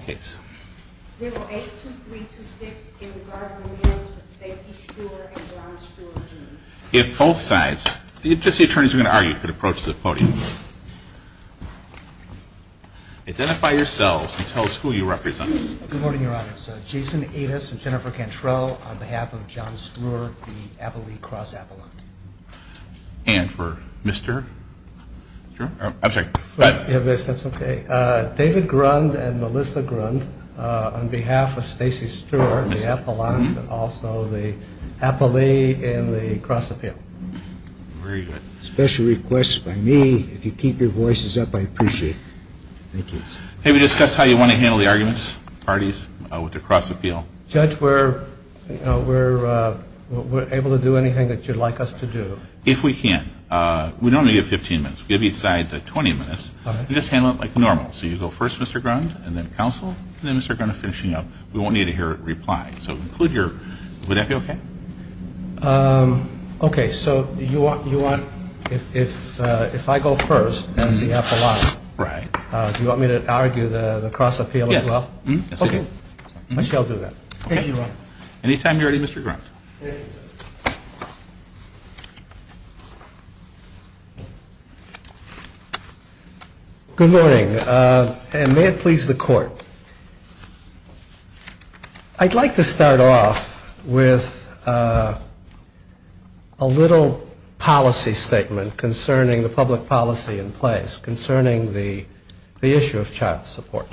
082326 in regard to the marriage of Stacey Streur and John Streur-June. If both sides, if just the attorneys are going to argue, you can approach the podium. Identify yourselves and tell us who you represent. Good morning, Your Honors. Jason Adas and Jennifer Cantrell on behalf of John Streur, the Appley Cross Appellant. And for Mr. Streur, I'm sorry. Yes, that's okay. David Grund and Melissa Grund on behalf of Stacey Streur, the Appellant, and also the Appley in the Cross Appeal. Very good. Special request by me. If you keep your voices up, I appreciate it. Thank you. Have you discussed how you want to handle the arguments, parties, with the Cross Appeal? Judge, we're able to do anything that you'd like us to do. If we can, we normally give 15 minutes. We give each side 20 minutes. Just handle it like normal. So you go first, Mr. Grund, and then counsel, and then Mr. Grund finishing up. We won't need to hear a reply. Would that be okay? Okay. So you want, if I go first as the Appellant, do you want me to argue the Cross Appeal as well? Yes. Okay. I shall do that. Thank you, Your Honor. Anytime you're ready, Mr. Grund. Good morning. And may it please the Court. I'd like to start off with a little policy statement concerning the public policy in place, concerning the issue of child support.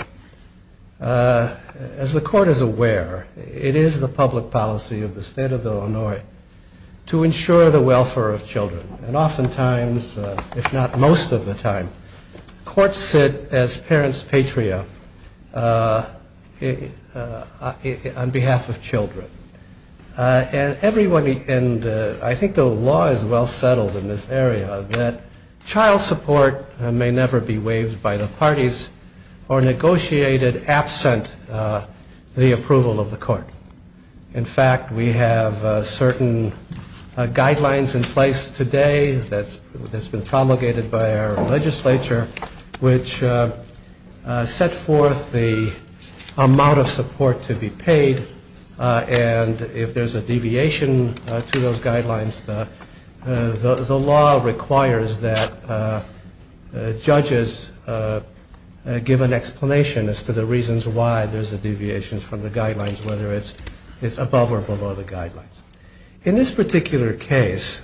As the Court is aware, it is the public policy of the State of Illinois to ensure the welfare of children. And oftentimes, if not most of the time, courts sit as parents' patria on behalf of children. And I think the law is well settled in this area that child support may never be waived by the parties or negotiated absent the approval of the court. In fact, we have certain guidelines in place today that's been promulgated by our legislature, which set forth the amount of support to be paid. And if there's a deviation to those guidelines, the law requires that judges give an explanation as to the reasons why there's a deviation from the guidelines, whether it's above or below the guidelines. In this particular case,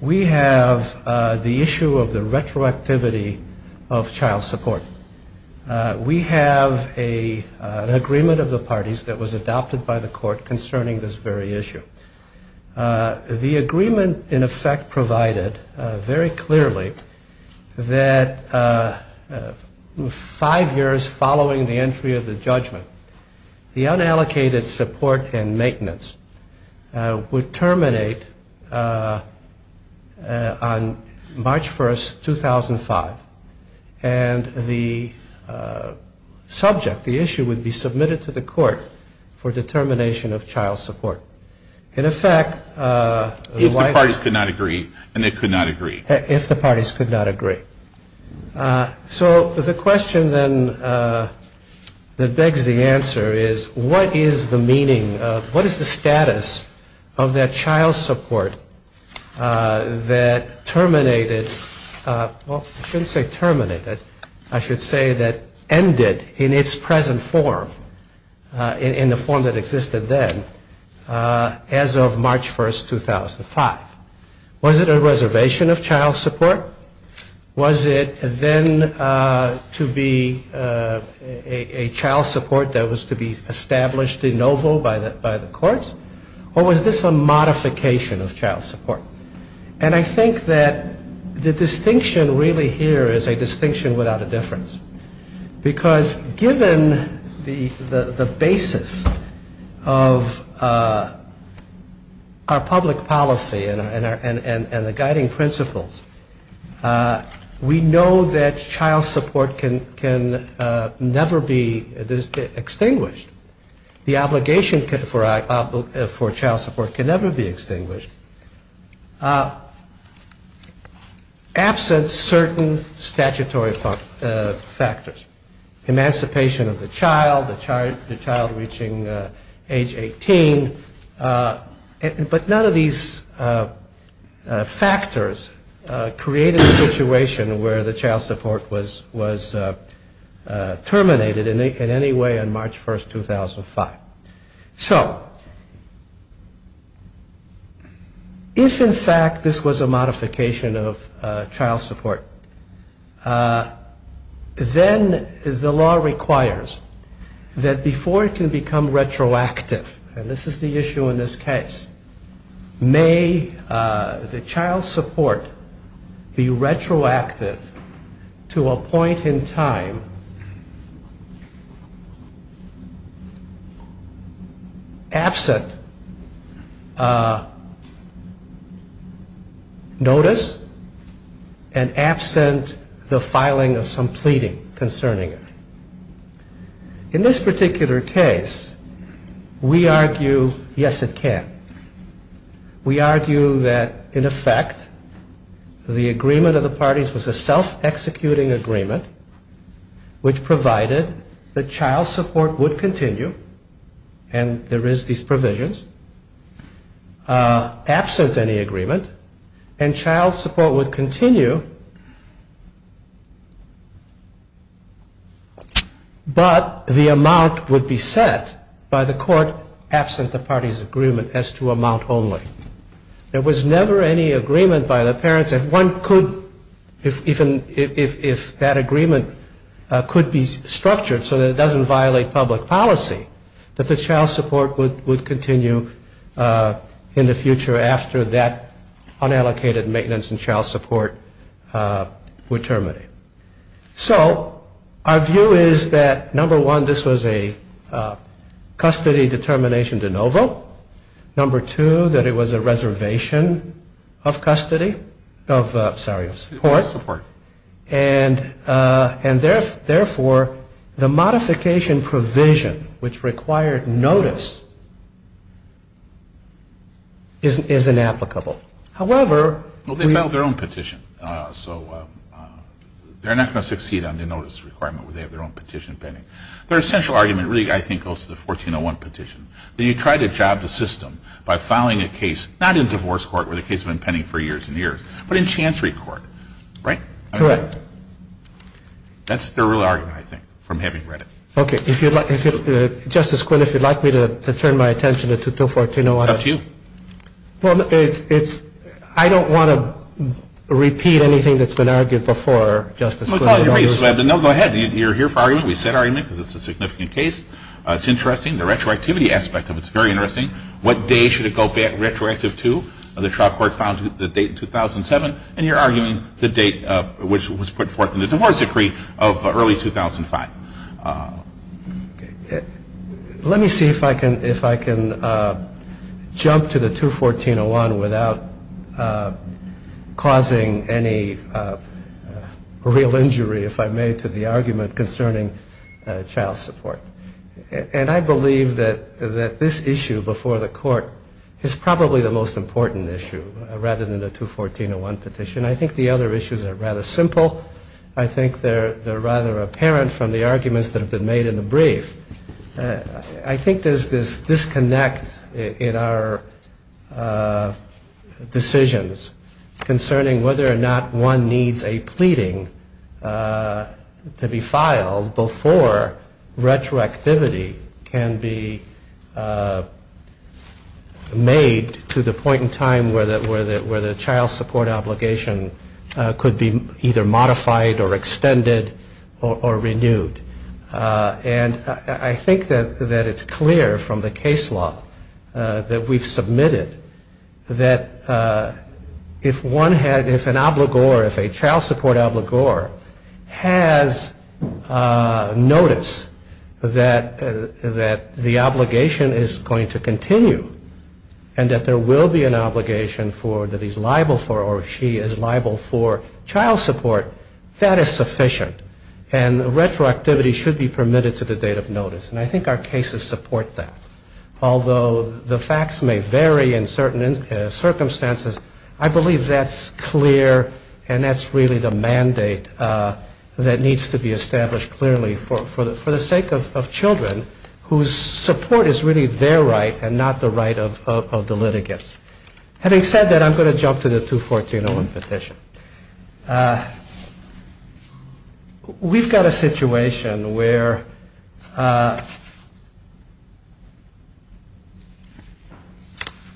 we have the issue of the retroactivity of child support. We have an agreement of the parties that was adopted by the court concerning this very issue. The agreement, in effect, provided very clearly that five years following the entry of the judgment, the unallocated support and maintenance would terminate on March 1, 2005. And the subject, the issue, would be submitted to the court for determination of child support. In effect, the White House... If the parties could not agree, and they could not agree. If the parties could not agree. So the question then that begs the answer is, what is the meaning of... What is the status of that child support that terminated... Well, I shouldn't say terminated. I should say that ended in its present form, in the form that existed then, as of March 1, 2005. Was it a reservation of child support? Was it then to be a child support that was to be established de novo by the courts? Or was this a modification of child support? And I think that the distinction really here is a distinction without a difference. Because given the basis of our public policy and the guiding principles, we know that child support can never be extinguished. The obligation for child support can never be extinguished. Absent certain statutory factors. Emancipation of the child, the child reaching age 18. But none of these factors created a situation where the child support was terminated in any way on March 1, 2005. So, if in fact this was a modification of child support, then the law requires that before it can become retroactive, and this is the issue in this case, may the child support be retroactive to a point in time absent notice and absent the filing of some pleading concerning it. In this particular case, we argue, yes, it can. We argue that, in effect, the agreement of the parties was a self-executing agreement, which provided that child support would continue, and there is these provisions, absent any agreement, and child support would continue, but the amount would be set by the court absent the party's agreement as to amount only. There was never any agreement by the parents that one could, if that agreement could be structured so that it doesn't violate public policy, that the child support would continue in the future after that unallocated maintenance in child support would terminate. So, our view is that, number one, this was a custody determination de novo. Number two, that it was a reservation of custody, of, sorry, of support. And, therefore, the modification provision, which required notice, is inapplicable. However... Well, they filed their own petition, so they're not going to succeed on the notice requirement where they have their own petition pending. Their essential argument, really, I think, goes to the 1401 petition, that you try to job the system by filing a case, not in divorce court, where the case has been pending for years and years, but in chancery court. Right? Correct. That's their real argument, I think, from having read it. Okay. If you'd like, Justice Quinn, if you'd like me to turn my attention to 1401... It's up to you. Well, it's, I don't want to repeat anything that's been argued before, Justice Quinn. No, go ahead. You're here for argument. We said argument, because it's a significant case. It's interesting. The retroactivity aspect of it is very interesting. What day should it go back retroactive to? The trial court found the date 2007, and you're arguing the date which was put forth in the divorce decree of early 2005. Let me see if I can jump to the 21401 without causing any real injury, if I may, to the argument concerning child support. And I believe that this issue before the court is probably the most important issue rather than the 21401 petition. I think the other issues are rather simple. I think they're rather apparent from the arguments that have been made in the brief. I think there's this disconnect in our decisions concerning whether or not one needs a pleading to be filed before retroactivity can be made to the point in time where the child support obligation could be either modified or extended or renewed. And I think that it's clear from the case law that we've submitted that if one had, if an obligor, if a child support obligor has notice that the obligation is going to continue and that there will be an obligation that he's liable for or she is liable for child support, that is sufficient. And retroactivity should be permitted to the date of notice. And I think our cases support that. Although the facts may vary in certain circumstances, I believe that's clear and that's really the mandate that needs to be established clearly for the sake of children whose support is really their right and not the right of the litigants. Having said that, I'm going to jump to the 214.01 petition. We've got a situation where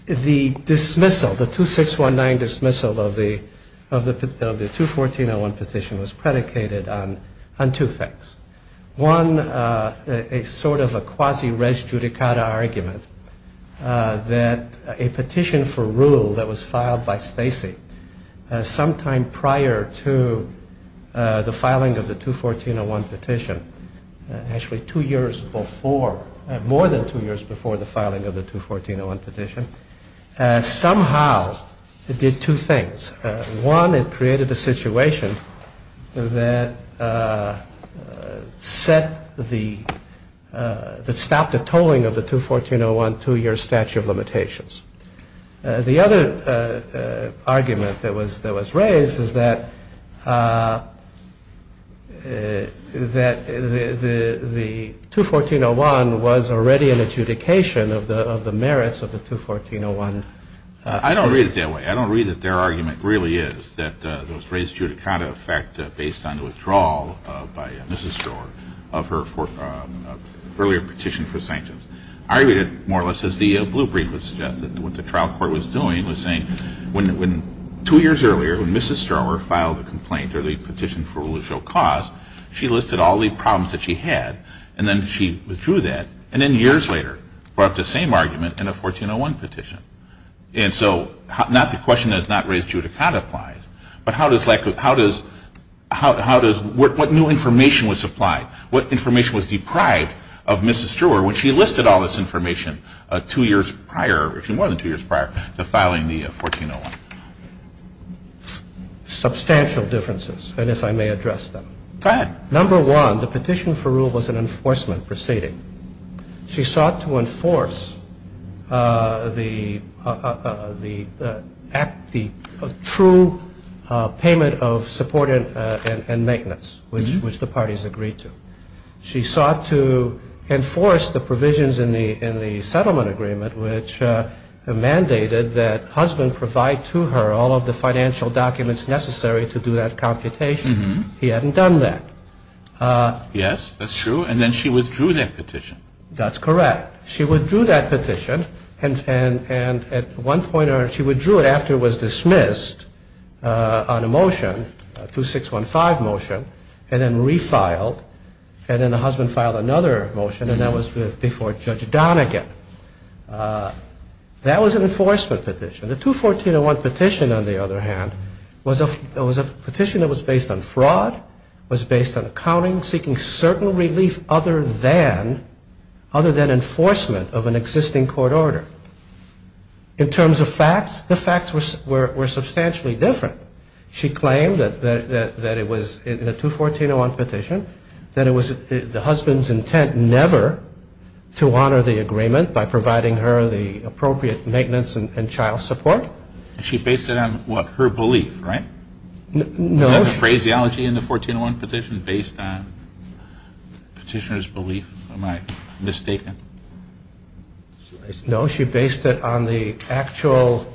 the dismissal, the 2619 dismissal of the 214.01 petition was predicated on two things. One, a sort of a quasi res judicata argument that a petition for rule that was filed by Stacy sometime prior to the filing of the 214.01 petition, actually two years before, more than two years before the filing of the 214.01 petition, somehow it did two things. One, it created a situation that set the, that stopped the tolling of the 214.01 two-year statute of limitations. The other argument that was raised is that the 214.01 was already an adjudication of the merits of the 214.01 petition. I don't read it that way. I don't read that their argument really is that there was a res judicata effect based on the withdrawal by Mrs. Strauer of her earlier petition for sanctions. I read it more or less as the blue brief would suggest that what the trial court was doing was saying when two years earlier when Mrs. Strauer filed a complaint or the petition for rule of show cause, she listed all the problems that she had and then she withdrew that and then years later brought up the same argument in a 214.01 petition. And so not the question that is not res judicata applies, but how does, what new information was supplied, what information was deprived of Mrs. Strauer when she listed all this information two years prior, actually more than two years prior to filing the 214.01? Substantial differences, and if I may address them. Number one, the petition for rule was an enforcement proceeding. She sought to enforce the true payment of support and maintenance, which the parties agreed to. She sought to enforce the provisions in the settlement agreement which mandated that husband provide to her all of the financial documents necessary to do that computation. He hadn't done that. Yes, that's true. And then she withdrew that petition. That's correct. She withdrew that petition and at one point she withdrew it after it was dismissed on a motion, a 2615 motion, and then refiled. And then the husband filed another motion and that was before Judge Donegan. That was an enforcement petition. The 214.01 petition, on the other hand, was a petition that was based on fraud, was based on accounting, seeking certain relief other than enforcement of an existing court order. In terms of facts, the facts were substantially different. She claimed that it was, in the 214.01 petition, that it was the husband's intent never to honor the agreement by providing her the appropriate maintenance and child support. She based it on her belief, right? No. Was that the phraseology in the 214.01 petition, based on petitioner's belief? Am I mistaken? No, she based it on the actual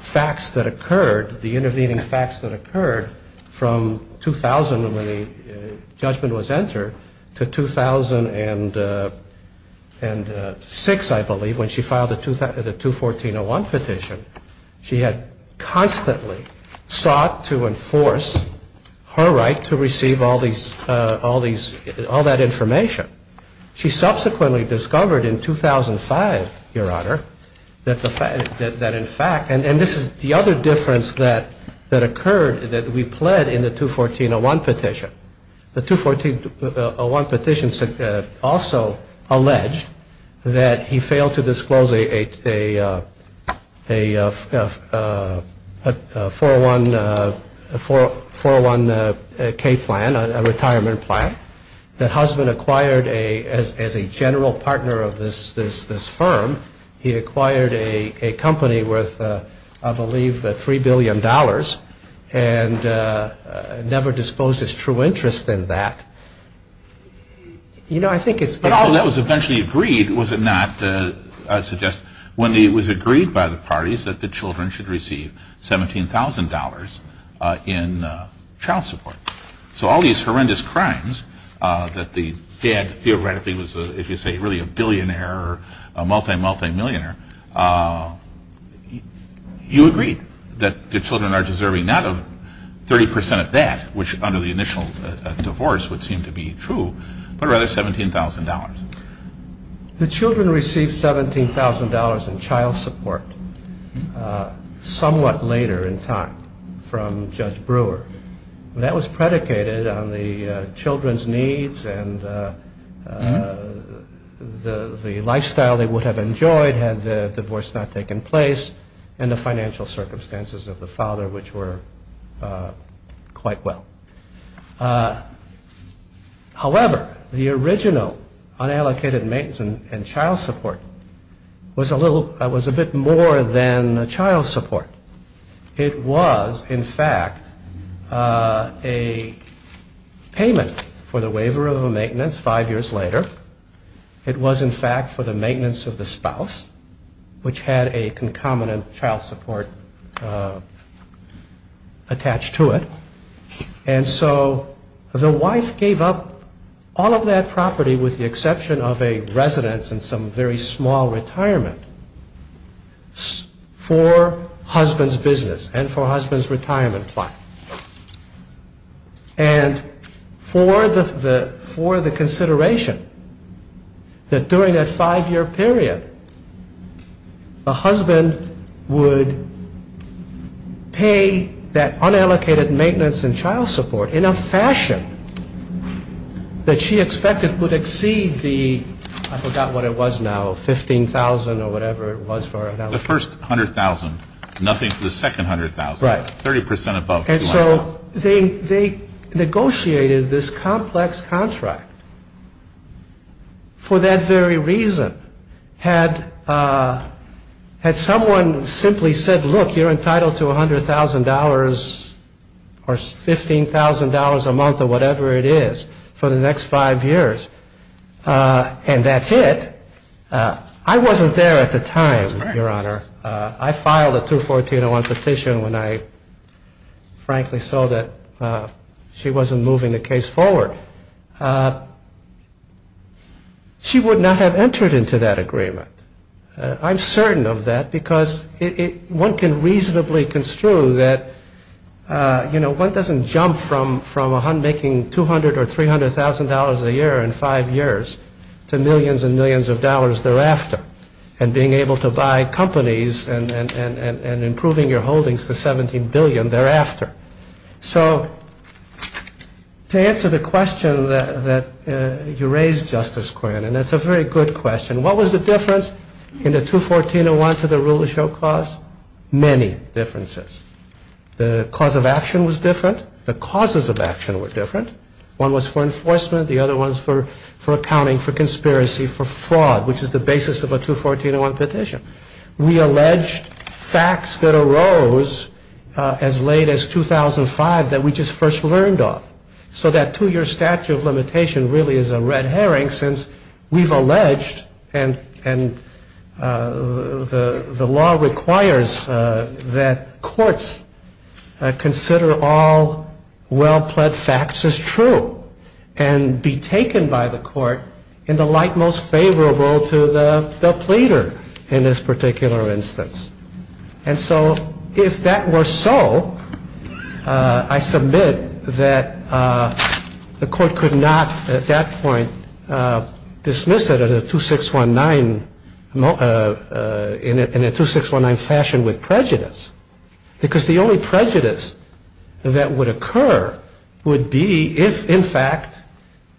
facts that occurred, the intervening facts that occurred from 2000 when the judgment was entered to 2006, I believe, when she filed the 214.01 petition. She had constantly sought to enforce her right to receive all that information. She subsequently discovered in 2005, Your Honor, that in fact, and this is the other difference that occurred, that we pled in the 214.01 petition. The 214.01 petition also alleged that he failed to disclose a 401k plan, a retirement plan, that husband acquired a 401k plan. As a general partner of this firm, he acquired a company worth, I believe, $3 billion, and never disposed his true interest in that. But all that was eventually agreed, was it not, I suggest, when it was agreed by the parties that the children should receive $17,000 in child support. So all these horrendous crimes that the dad theoretically was, if you say, really a billionaire or a multi-multi-millionaire. You agreed that the children are deserving not of 30% of that, which under the initial divorce would seem to be true, but rather $17,000. The children received $17,000 in child support somewhat later in time from Judge Brewer. And that was predicated on the children's needs and the lifestyle they would have enjoyed had the divorce not taken place, and the financial circumstances of the father, which were quite well. However, the original unallocated maintenance and child support was a bit more than child support. It was, in fact, a payment for the waiver of a maintenance five years later. It was, in fact, for the maintenance of the spouse, which had a concomitant child support attached to it. And so the wife gave up all of that property, with the exception of a residence and some very small retirement, for $100,000. It was for the husband's business and for her husband's retirement plan. And for the consideration that during that five-year period, the husband would pay that unallocated maintenance and child support in a fashion that she expected would exceed the, I forgot what it was now, $15,000 or whatever it was. The first $100,000, nothing for the second $100,000, 30% above $200,000. And so they negotiated this complex contract for that very reason. Had someone simply said, look, you're entitled to $100,000 or $15,000 a month or whatever it is for the next five years, and that's it, I wasn't there at the time. I filed a 214-01 petition when I, frankly, saw that she wasn't moving the case forward. She would not have entered into that agreement. I'm certain of that, because one can reasonably construe that one doesn't jump from making $200,000 or $300,000 a year in five years to millions and millions of dollars thereafter. And being able to buy companies and improving your holdings to $17 billion thereafter. So to answer the question that you raised, Justice Quinn, and it's a very good question, what was the difference in the 214-01 to the rule of show cause? Many differences. The cause of action was different. The causes of action were different. One was for enforcement, the other was for accounting for conspiracy for fraud, which is the basis of a 214-01 petition. We allege facts that arose as late as 2005 that we just first learned of. So that two-year statute of limitation really is a red herring, since we've alleged, and the law requires that courts consider all well-pledged facts as true. And be taken by the court in the light most favorable to the pleader in this particular instance. And so if that were so, I submit that the court could not at that point dismiss it in a 2619 fashion with prejudice. Because the only prejudice that would occur would be if, in fact,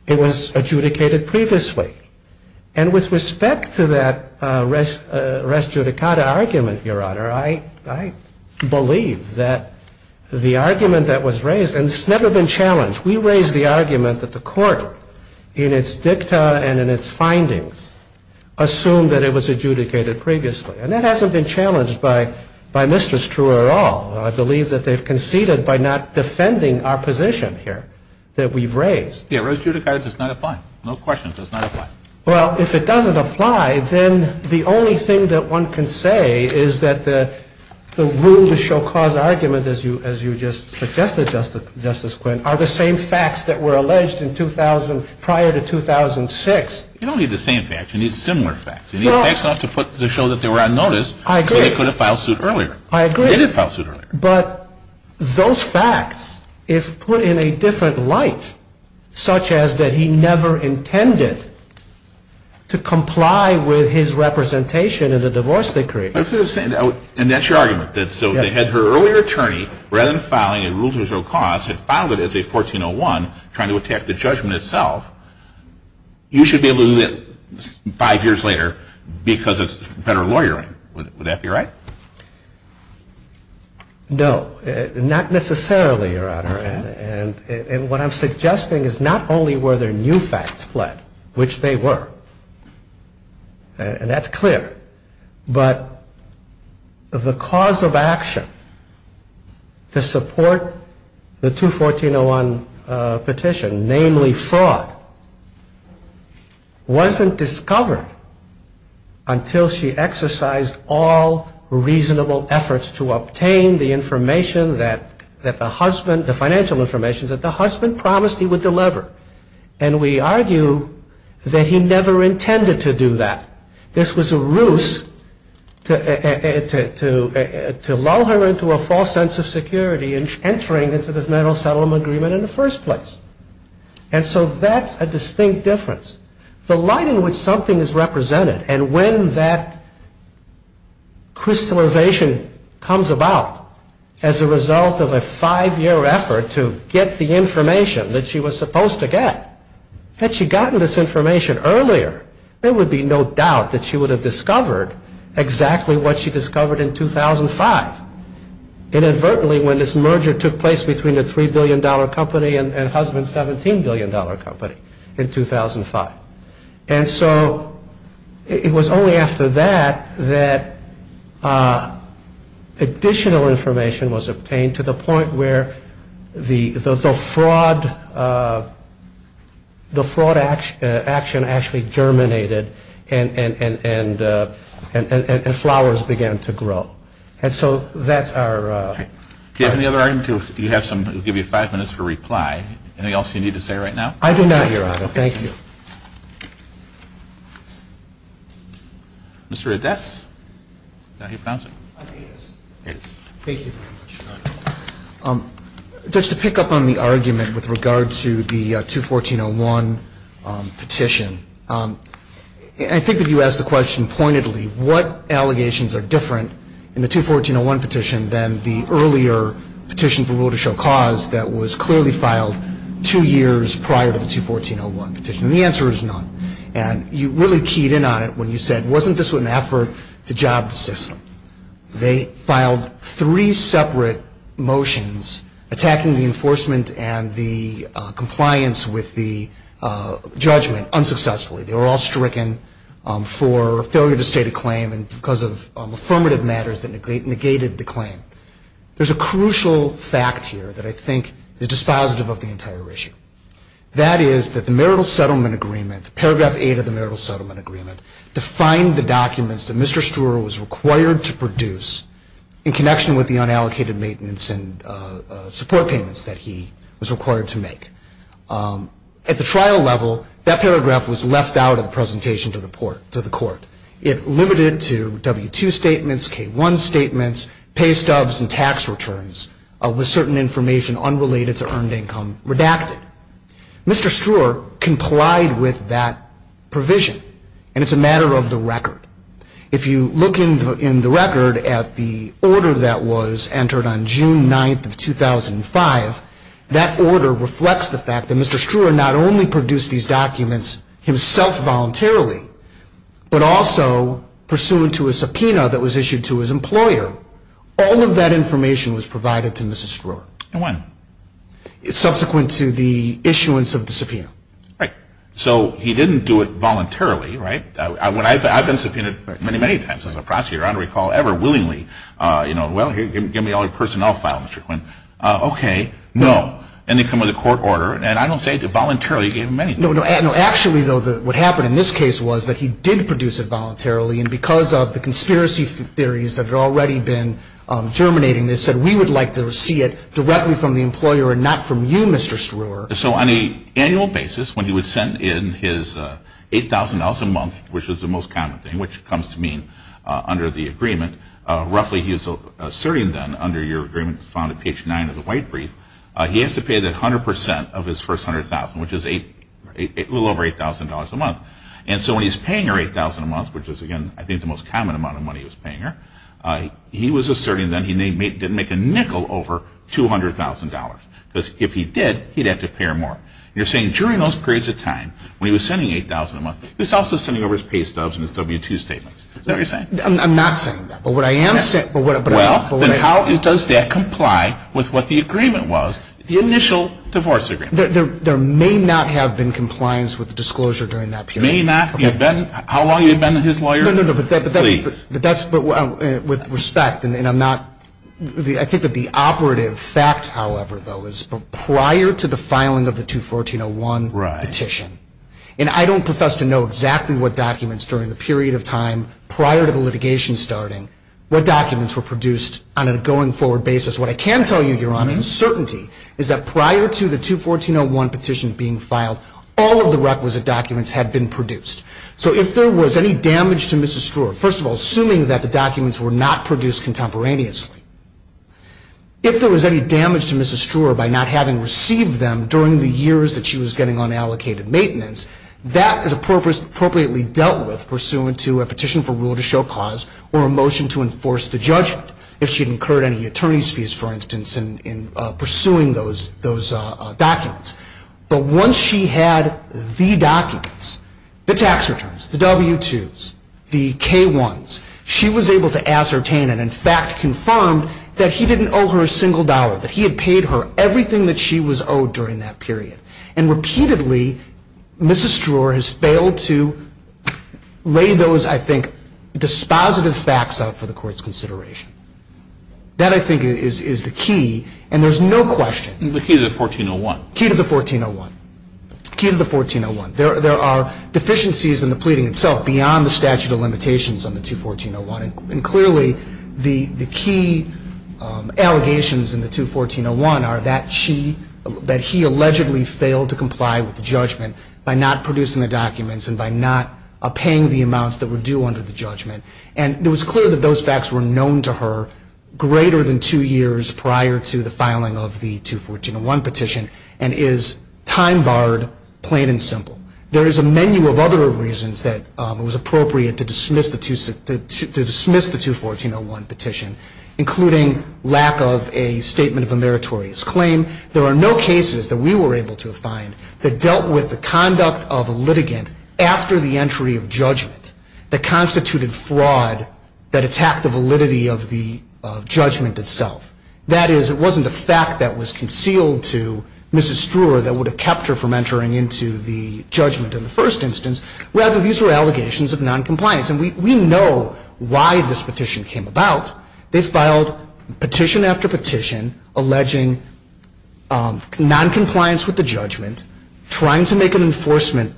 it was adjudicated previously. And with respect to that res judicata argument, Your Honor, I believe that the argument that was raised, and it's never been challenged. We raised the argument that the court, in its dicta and in its findings, assumed that it was adjudicated previously. And that hasn't been challenged by Mr. Struer at all. I believe that they've conceded by not defending our position here that we've raised. Yeah, res judicata does not apply. No question. It does not apply. Well, if it doesn't apply, then the only thing that one can say is that the rule to show cause argument, as you just suggested, Justice Quinn, are the same facts that were alleged in 2000 prior to 2006. You don't need the same facts. You need similar facts. But those facts, if put in a different light, such as that he never intended to comply with his representation in the divorce decree. And that's your argument, that so they had her earlier attorney, rather than filing a rule to show cause, had filed it as a 1401 trying to attack the judgment itself. You should be able to do that five years later because it's federal lawyering. Would that be right? No, not necessarily, Your Honor. And what I'm suggesting is not only were there new facts fled, which they were, and that's clear. But the cause of action to support the 214-01 petition, namely fraud, wasn't discovered until she exercised all reasonable efforts to obtain the information she needed. The information that the husband, the financial information, that the husband promised he would deliver. And we argue that he never intended to do that. This was a ruse to lull her into a false sense of security in entering into this mental settlement agreement in the first place. And so that's a distinct difference. The light in which something is represented, and when that crystallization comes about as a result of a five-year effort to get the information that she was supposed to get, had she gotten this information earlier, there would be no doubt that she would have discovered exactly what she discovered in 2005. Inadvertently, when this merger took place between the $3 billion company and husband's $17 billion company in 2005. And so it was only after that that additional information was obtained to the point where the fraud action actually germinated and flowers began to grow. And so that's our argument. Thank you. Mr. Ades. Judge, to pick up on the argument with regard to the 214-01 petition, I think that you asked the question pointedly, what allegations are different in the 214-01 petition than the earlier petition? And the answer is none. And you really keyed in on it when you said, wasn't this an effort to job the system? They filed three separate motions attacking the enforcement and the compliance with the judgment unsuccessfully. They were all stricken for failure to state a claim because of affirmative matters that negated the claim. There's a crucial fact here that I think is dispositive of the entire issue. That is that the marital settlement agreement, paragraph 8 of the marital settlement agreement, defined the documents that Mr. Struer was required to produce in connection with the unallocated maintenance and support payments that he was required to make. At the trial level, that paragraph was left out of the presentation to the court. It limited to W-2 statements, K-1 statements, pay stubs and tax returns with certain information unrelated to earned income redacted. Mr. Struer complied with that provision, and it's a matter of the record. If you look in the record at the order that was entered on June 9th of 2005, that order reflects the fact that Mr. Struer not only produced these documents himself voluntarily, but also pursuant to a subpoena that was issued to his employer, all of that information was provided to Mr. Struer. And when? Subsequent to the issuance of the subpoena. Right. So he didn't do it voluntarily, right? I've been subpoenaed many, many times as a prosecutor. I don't recall ever willingly, you know, well, here, give me all your personnel file, Mr. Quinn. Okay, no. And they come with a court order, and I don't say voluntarily, he gave them anything. No, no, actually, though, what happened in this case was that he did produce it voluntarily, and because of the conspiracy theories that had already been germinating, they said, we would like to see it directly from the employer and not from you, Mr. Struer. So on an annual basis, when he would send in his $8,000 a month, which was the most common thing, which comes to mean under the agreement, roughly he was asserting then, under your agreement found at page 9 of the white brief, he has to pay the 100% of his first $100,000, which is a little over $8,000 a month. And so when he's paying her $8,000 a month, which is, again, I think the most common amount of money he was paying her, he was asserting then, he didn't make a nickel over $200,000. Because if he did, he'd have to pay $8,000 a month. If he didn't, he'd have to pay her more. And you're saying during those periods of time, when he was sending $8,000 a month, he was also sending over his pay stubs and his W-2 statements. Is that what you're saying? I'm not saying that. But what I am saying... Well, then how does that comply with what the agreement was, the initial divorce agreement? There may not have been compliance with the disclosure during that period. May not? How long you been his lawyer? No, no, no, but that's... With respect, and I'm not... I think that the operative fact, however, though, is prior to the filing of the 214-01 petition, and I don't profess to know exactly what documents during the period of time prior to the litigation starting, what documents were produced on a going forward basis. What I can tell you, Your Honor, in certainty, is that prior to the 214-01 petition being filed, all of the documents were not produced contemporaneously. If there was any damage to Mrs. Struer by not having received them during the years that she was getting unallocated maintenance, that is appropriately dealt with pursuant to a petition for rule to show cause or a motion to enforce the judgment, if she'd incurred any attorney's fees, for instance, in pursuing those documents. But once she had the documents, the tax records, the K-1s, she was able to ascertain and, in fact, confirm that he didn't owe her a single dollar, that he had paid her everything that she was owed during that period. And repeatedly, Mrs. Struer has failed to lay those, I think, dispositive facts out for the Court's consideration. That, I think, is the key, and there's no question... The key to the 14-01. Key to the 14-01. Key to the 14-01. There are deficiencies in the limitations on the 14-01. And clearly, the key allegations in the 14-01 are that she, that he allegedly failed to comply with the judgment by not producing the documents and by not paying the amounts that were due under the judgment. And it was clear that those facts were known to her greater than two years prior to the filing of the 14-01 petition and is time-barred, plain and simple. There is a menu of other reasons that it was necessary to dismiss the 14-01 petition, including lack of a statement of a meritorious claim. There are no cases that we were able to find that dealt with the conduct of a litigant after the entry of judgment that constituted fraud that attacked the validity of the judgment itself. That is, it wasn't a fact that was concealed to Mrs. Struer that would have kept her from entering into the judgment in the first instance. Rather, these were allegations of noncompliance. And we know why this petition came about. They filed petition after petition alleging noncompliance with the judgment, trying to make an enforcement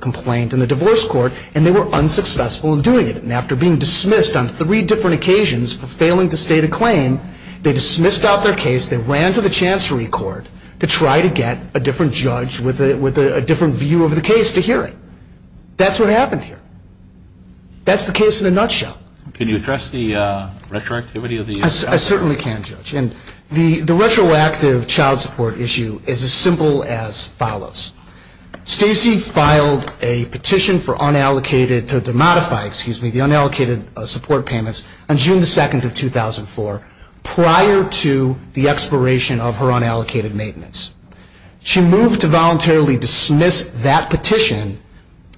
complaint in the divorce court, and they were unsuccessful in doing it. And after being dismissed on three different occasions for failing to state a claim, they dismissed out their case, they ran to the Chancery Court to try to get a different view of the case to hear it. That's what happened here. That's the case in a nutshell. Can you address the retroactivity of the issue? I certainly can, Judge. And the retroactive child support issue is as simple as follows. Stacey filed a petition for unallocated support payments on June 2, 2004, prior to the expiration of her unallocated maintenance. She moved to voluntarily dismiss that petition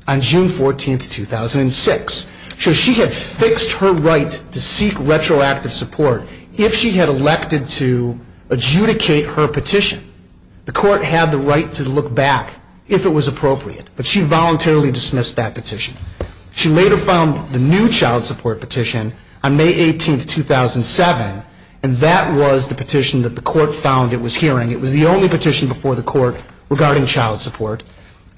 on June 14, 2006. So she had fixed her right to seek retroactive support if she had elected to adjudicate her petition. The court had the right to look back if it was appropriate. But she voluntarily dismissed that petition. She later filed the new child support petition on May 18, 2007, and that was the petition that the court found it was hearing. It was the only petition that the court found it was hearing. And it was the only petition before the court regarding child support,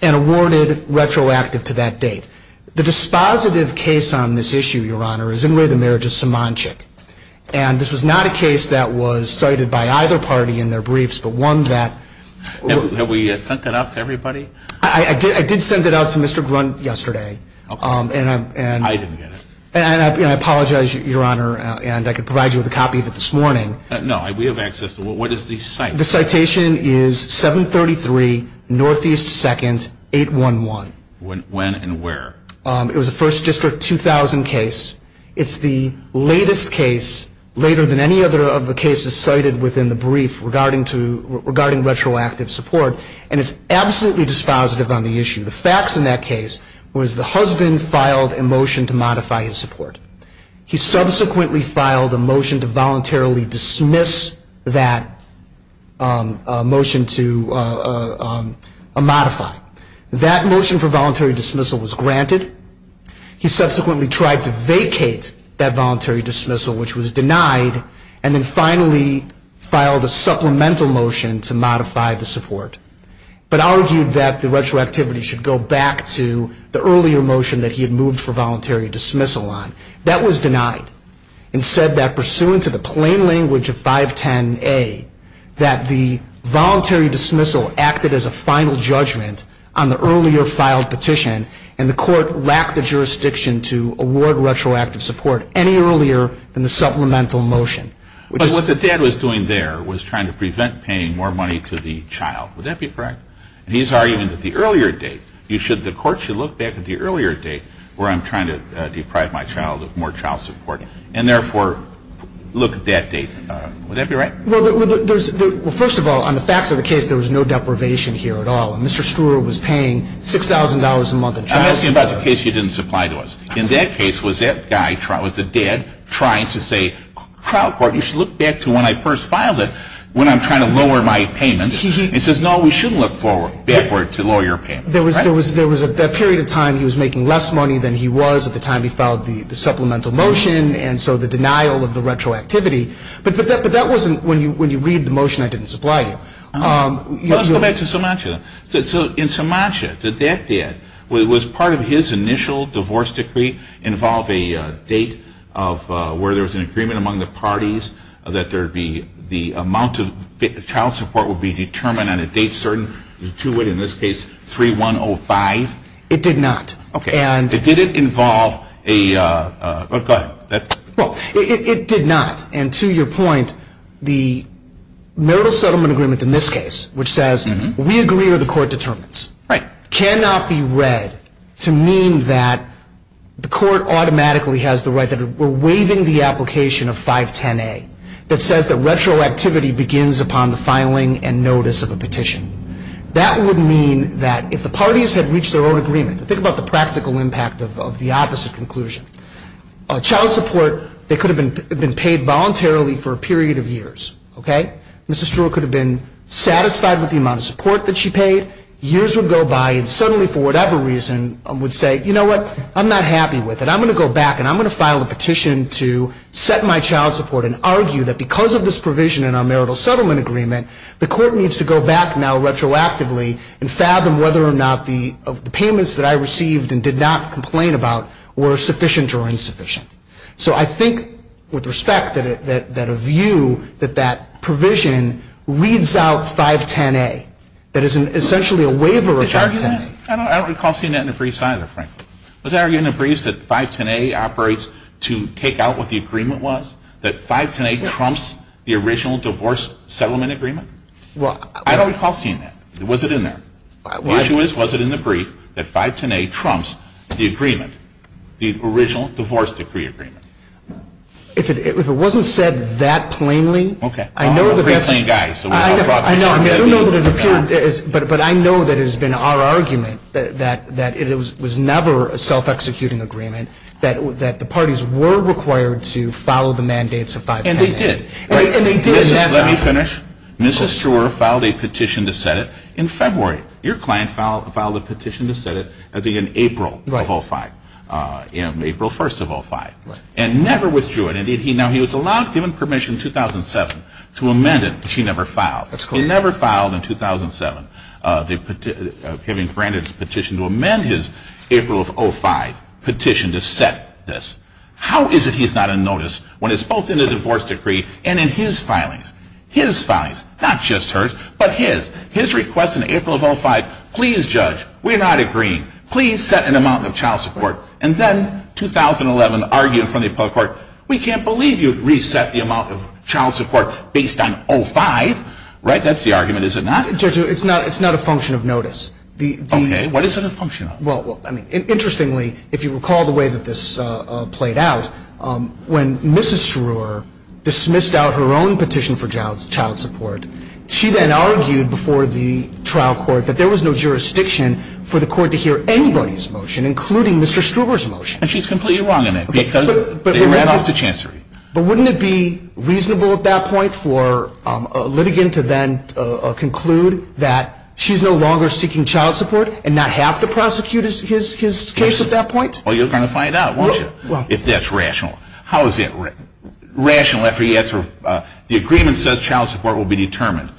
and awarded retroactive to that date. The dispositive case on this issue, Your Honor, is in lay the marriage of Somanchik. And this was not a case that was cited by either party in their briefs, but one that... Have we sent that out to everybody? I did send it out to Mr. Grunt yesterday. I didn't get it. And I apologize, Your Honor, and I could provide you with a copy of it this morning. No, we have access to it. What is the citation? The citation is 733 Northeast 2nd, 811. When and where? It was a First District 2000 case. It's the latest case, later than any other of the cases cited within the brief regarding retroactive support. And it's absolutely dispositive on the issue. The facts in that case was the husband filed a motion to modify his support. He subsequently filed a motion to voluntarily dismiss that motion to modify. That motion for voluntary dismissal was granted. He subsequently tried to vacate that voluntary dismissal, which was denied, and then finally filed a supplemental motion to modify the support. But argued that the retroactivity should go back to the earlier motion that he had moved for voluntary dismissal on. That was denied. And said that pursuant to the plain language of 510A, that the voluntary dismissal acted as a final judgment on the earlier filed petition, and the court lacked the jurisdiction to award retroactive support any earlier than the supplemental motion. But what the dad was doing there was trying to prevent paying more money to the child. Would that be correct? And he's arguing that the earlier date, the court should look back at the earlier date where I'm trying to deprive my child of more child support. And therefore, look at that date. Would that be right? Well, first of all, on the facts of the case, there was no deprivation here at all. And Mr. Struhr was paying $6,000 a month in child support. I'm asking about the case you didn't supply to us. In that case, was that guy, was the dad trying to say, trial court, I'm going to pay $6,000 a month in child support. You should look back to when I first filed it, when I'm trying to lower my payment. He says, no, we shouldn't look forward, backward to lower your payment. There was a period of time he was making less money than he was at the time he filed the supplemental motion, and so the denial of the retroactivity. But that wasn't when you read the motion I didn't supply you. Let's go back to Sumatra. So in Sumatra, did that dad, was part of his initial divorce decree involve a date of where there was an agreement among the parties? That there would be the amount of child support would be determined on a date certain to it, in this case, 3-1-0-5? It did not. Did it involve a, go ahead. Well, it did not. And to your point, the marital settlement agreement in this case, which says, we agree with the court determinants, cannot be read to mean that the court automatically has the right that we're waiving the application of 510A. That says that retroactivity begins upon the filing and notice of a petition. That would mean that if the parties had reached their own agreement, think about the practical impact of the opposite conclusion. Child support, they could have been paid voluntarily for a period of years. Mrs. Struhr could have been satisfied with the amount of support that she paid. Years would go by and suddenly, for whatever reason, would say, you know what, I'm not happy with it. And I'm going to go back and I'm going to file a petition to set my child support and argue that because of this provision in our marital settlement agreement, the court needs to go back now retroactively and fathom whether or not the payments that I received and did not complain about were sufficient or insufficient. So I think, with respect, that a view that that provision reads out 510A. That is essentially a waiver of 510A. I don't recall seeing that in the briefs either, frankly. Was that argued in the briefs that 510A operates to take out what the agreement was? That 510A trumps the original divorce settlement agreement? I don't recall seeing that. Was it in there? The issue is, was it in the brief that 510A trumps the agreement, the original divorce decree agreement? If it wasn't said that plainly, I know that that's... It was never a self-executing agreement. That the parties were required to follow the mandates of 510A. And they did. Let me finish. Mrs. Schreuer filed a petition to set it in February. Your client filed a petition to set it, I think, in April of 05. In April 1st of 05. And never withdrew it. Now, he was allowed, given permission in 2007 to amend it, but she never filed. He never filed in 2007. Having granted his petition to amend his April of 05 petition to set this. How is it he's not on notice when it's both in the divorce decree and in his filings? His filings. Not just hers, but his. His request in April of 05, please judge, we're not agreeing. Please set an amount of child support. And then, 2011, argued in front of the appellate court, we can't believe you reset the amount of child support based on 05. Right? That's the argument. Is it not? Judge, it's not a function of notice. Okay. What is it a function of? Interestingly, if you recall the way that this played out, when Mrs. Schreuer dismissed out her own petition for child support, she then argued before the trial court that there was no jurisdiction for the court to hear anybody's motion, including Mr. Schreuer's motion. And she's completely wrong in it. Because they ran off to chancery. But wouldn't it be reasonable at that point for a litigant to then conclude that she's no longer seeking child support and not have to prosecute his case at that point? Well, you're going to find out, won't you, if that's rational. How is it rational after he has her, the agreement says child support will be determined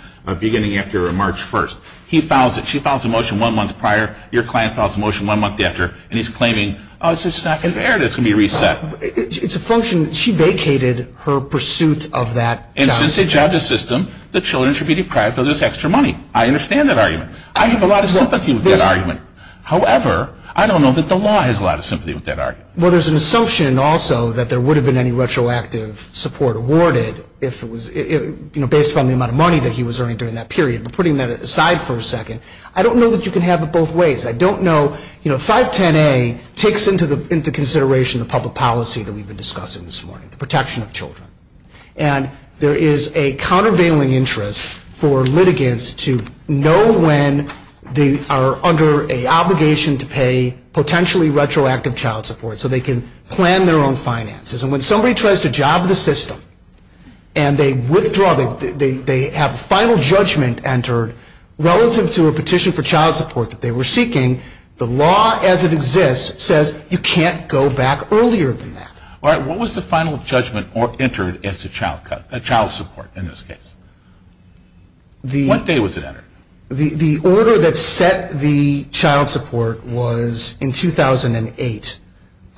beginning after March 1st. He files it, she files a motion one month prior, your client files a motion one month after, and he's claiming, oh, it's just not fair that it's going to be reset. But it's a function, she vacated her pursuit of that child support. And since it's a judge's system, the children should be deprived of this extra money. I understand that argument. I have a lot of sympathy with that argument. However, I don't know that the law has a lot of sympathy with that argument. Well, there's an assumption also that there would have been any retroactive support awarded based upon the amount of money that he was earning during that period. But putting that aside for a second, I don't know that you can have it both ways. I don't know, you know, 510A takes into consideration the public policy that we've been discussing this morning, the protection of children. And there is a countervailing interest for litigants to know when they are under an obligation to pay potentially retroactive child support so they can plan their own finances. And when somebody tries to job the system and they withdraw, they have a final judgment entered relative to a petition for child support that they were seeking. The law as it exists says you can't go back earlier than that. What was the final judgment entered as to child support in this case? What day was it entered? The order that set the child support was in 2008.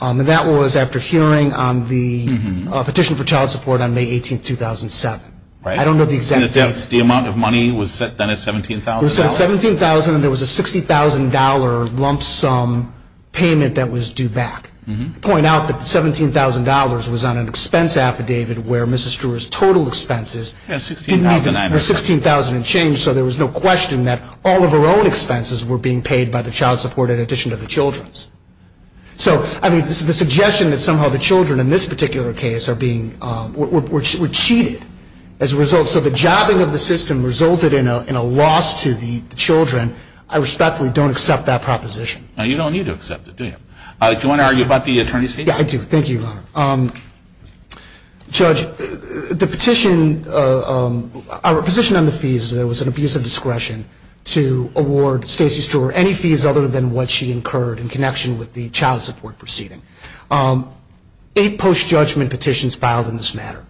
And that was after hearing on the petition for child support on May 18, 2007. I don't know the exact dates. And the amount of money was then at $17,000? It was at $17,000, and there was a $60,000 lump sum payment that was due back. To point out that the $17,000 was on an expense affidavit where Mrs. Struhr's total expenses didn't even, were $16,000 and change, so there was no question that all of her own expenses were being paid by the child support in addition to the children's. So, I mean, this is the suggestion that somehow the children in this particular case are being, were cheated as a result. So the jobbing of the system resulted in a loss to the children. I respectfully don't accept that proposition. You don't need to accept it, do you? Do you want to argue about the attorney's fees? Yeah, I do. Thank you, Your Honor. Judge, the petition, our position on the fees is that it was an abuse of discretion to award Stacey Struhr any fees other than what she incurred in connection with the child support proceeding. Eight post-judgment petitions filed in this matter.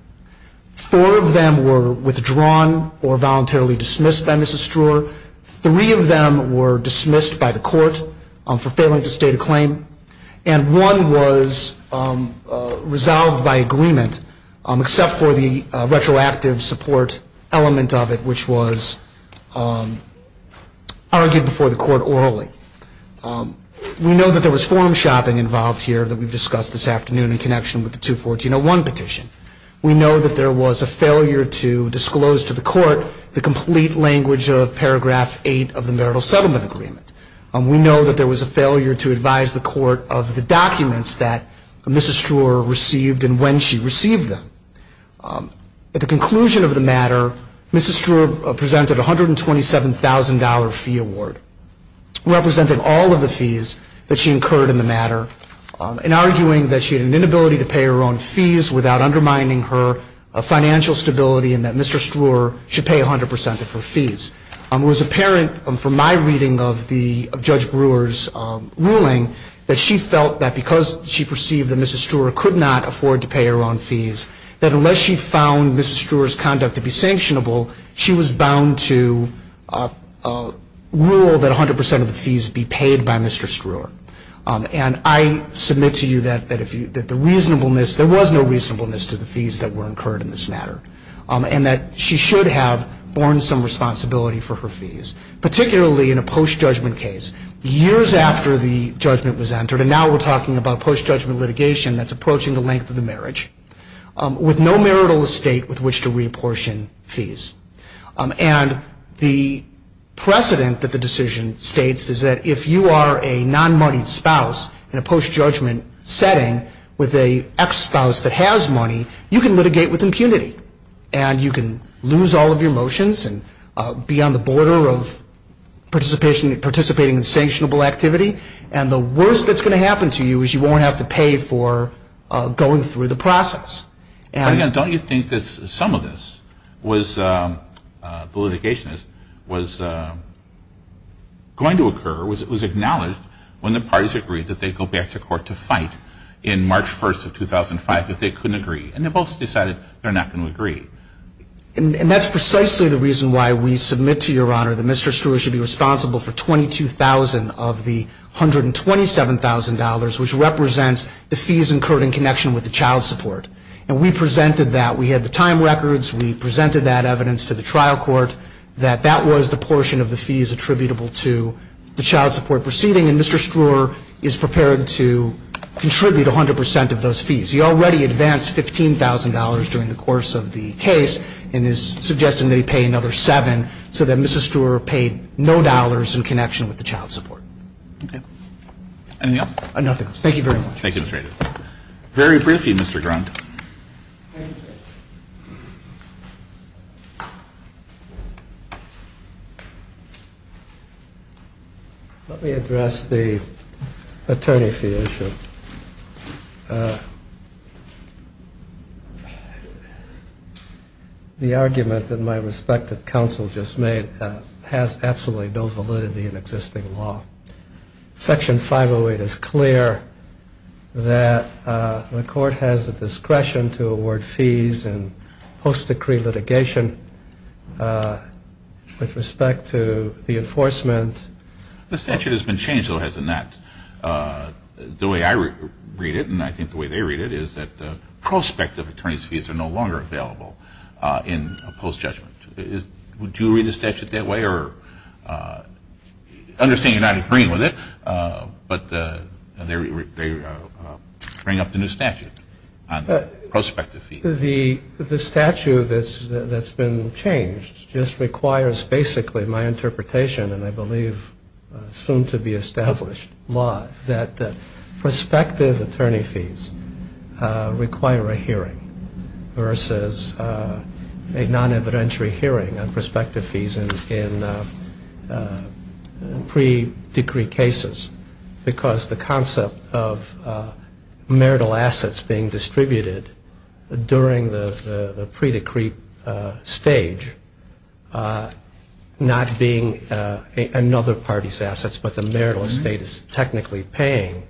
Four of them were withdrawn or voluntarily dismissed by Mrs. Struhr. Three of them were dismissed by the court for failing to state a claim. And one was resolved by agreement, except for the retroactive support element of it, which was argued before the court orally. We know that there was form shopping involved here that we've discussed this afternoon in connection with the 214.01 petition. We know that there was a failure to disclose to the court the complete language of paragraph 8 of the marital settlement agreement. We know that there was a failure to advise the court of the documents that Mrs. Struhr received and when she received them. At the conclusion of the matter, Mrs. Struhr presented a $127,000 fee award representing all of the fees that she incurred in the matter and arguing that she had an inability to pay her own fees without undermining her financial stability and that Mr. Struhr should pay 100% of her fees. It was apparent from my reading of Judge Brewer's ruling that she felt that because she perceived that Mrs. Struhr could not afford to pay her own fees, that unless she found Mrs. Struhr's conduct to be sanctionable, she was bound to rule that 100% of the fees be paid by Mr. Struhr. And I submit to you that there was no reasonableness to the fees that were incurred in this matter and that she should have borne some responsibility for her fees, particularly in a post-judgment case. Years after the judgment was entered, and now we're talking about post-judgment litigation that's approaching the length of the marriage, with no marital estate with which to reapportion fees. And the precedent that the decision states is that if you are a non-moneyed spouse in a post-judgment setting with an ex-spouse that has money, you can litigate with impunity and you can lose all of your motions and be on the border of participating in sanctionable activity. And the worst that's going to happen to you is you won't have to pay for going through the process. Don't you think that some of this, the litigation, was going to occur, was acknowledged when the parties agreed that they'd go back to court to fight in March 1st of 2005 if they couldn't agree? And they both decided they're not going to agree. And that's precisely the reason why we submit to Your Honor that Mr. Struer should be responsible for $22,000 of the $127,000, which represents the fees incurred in connection with the child support. And we presented that. We had the time records. We presented that evidence to the trial court, that that was the portion of the fees attributable to the child support proceeding. And Mr. Struer is prepared to contribute 100 percent of those fees. He already advanced $15,000 during the course of the case and is suggesting that he pay another $7,000 so that Mrs. Struer paid no dollars in connection with the child support. Okay. Anything else? Nothing else. Thank you very much. Thank you, Mr. Aitken. Very briefly, Mr. Grunt. Thank you. Let me address the attorney fee issue. The argument, in my respect, that counsel just made has absolutely no validity in existing law. Section 508 is clear that the court has the discretion to award fees in post-decree litigation with respect to the enforcement. The statute has been changed, though, has it not? The way I read it, and I think the way they read it, is that the prospect of attorney's fees are no longer available in post-judgment. Do you read the statute that way? I understand you're not agreeing with it, but they bring up the new statute on the prospect of fees. The statute that's been changed just requires basically my interpretation, and I believe soon-to-be-established law, that the prospective attorney fees require a hearing versus a non-evidentiary hearing on prospective fees in pre-decree cases because the concept of marital assets being distributed during the pre-decree stage, not being another party's assets, but the marital estate is technically paying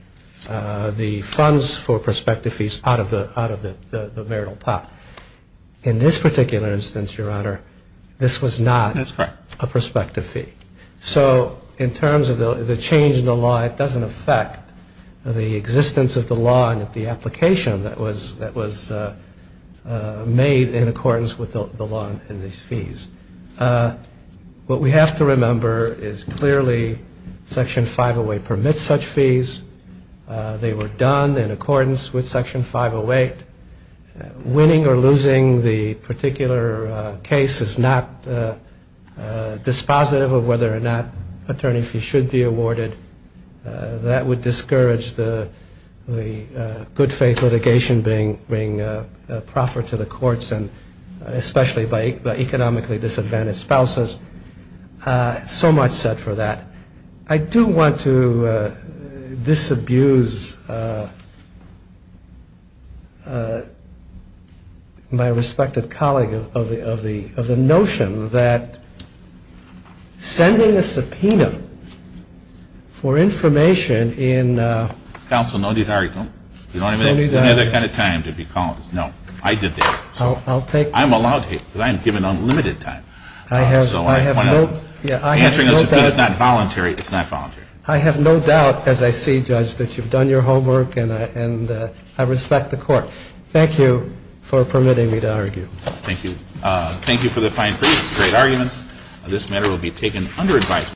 the funds for prospective fees out of the marital pot. In this particular instance, Your Honor, this was not a prospective fee. So in terms of the change in the law, it doesn't affect the existence of the law and the application that was made in accordance with the law and these fees. What we have to remember is clearly Section 508 permits such fees. They were done in accordance with Section 508. Winning or losing the particular case is not dispositive of whether or not attorney fees should be awarded. That would discourage the good-faith litigation being proffered to the courts and especially by economically disadvantaged spouses. So much said for that. I do want to disabuse my respected colleague of the notion that sending a subpoena for information in- Counsel, no need to hurry. You don't have any other kind of time to be calling. No, I did that. I'll take- I'm allowed to because I am given unlimited time. I have no- Answering a subpoena is not voluntary. It's not voluntary. I have no doubt, as I see, Judge, that you've done your homework and I respect the Court. Thank you for permitting me to argue. Thank you. Thank you for the fine briefs, great arguments. This matter will be taken under advisement.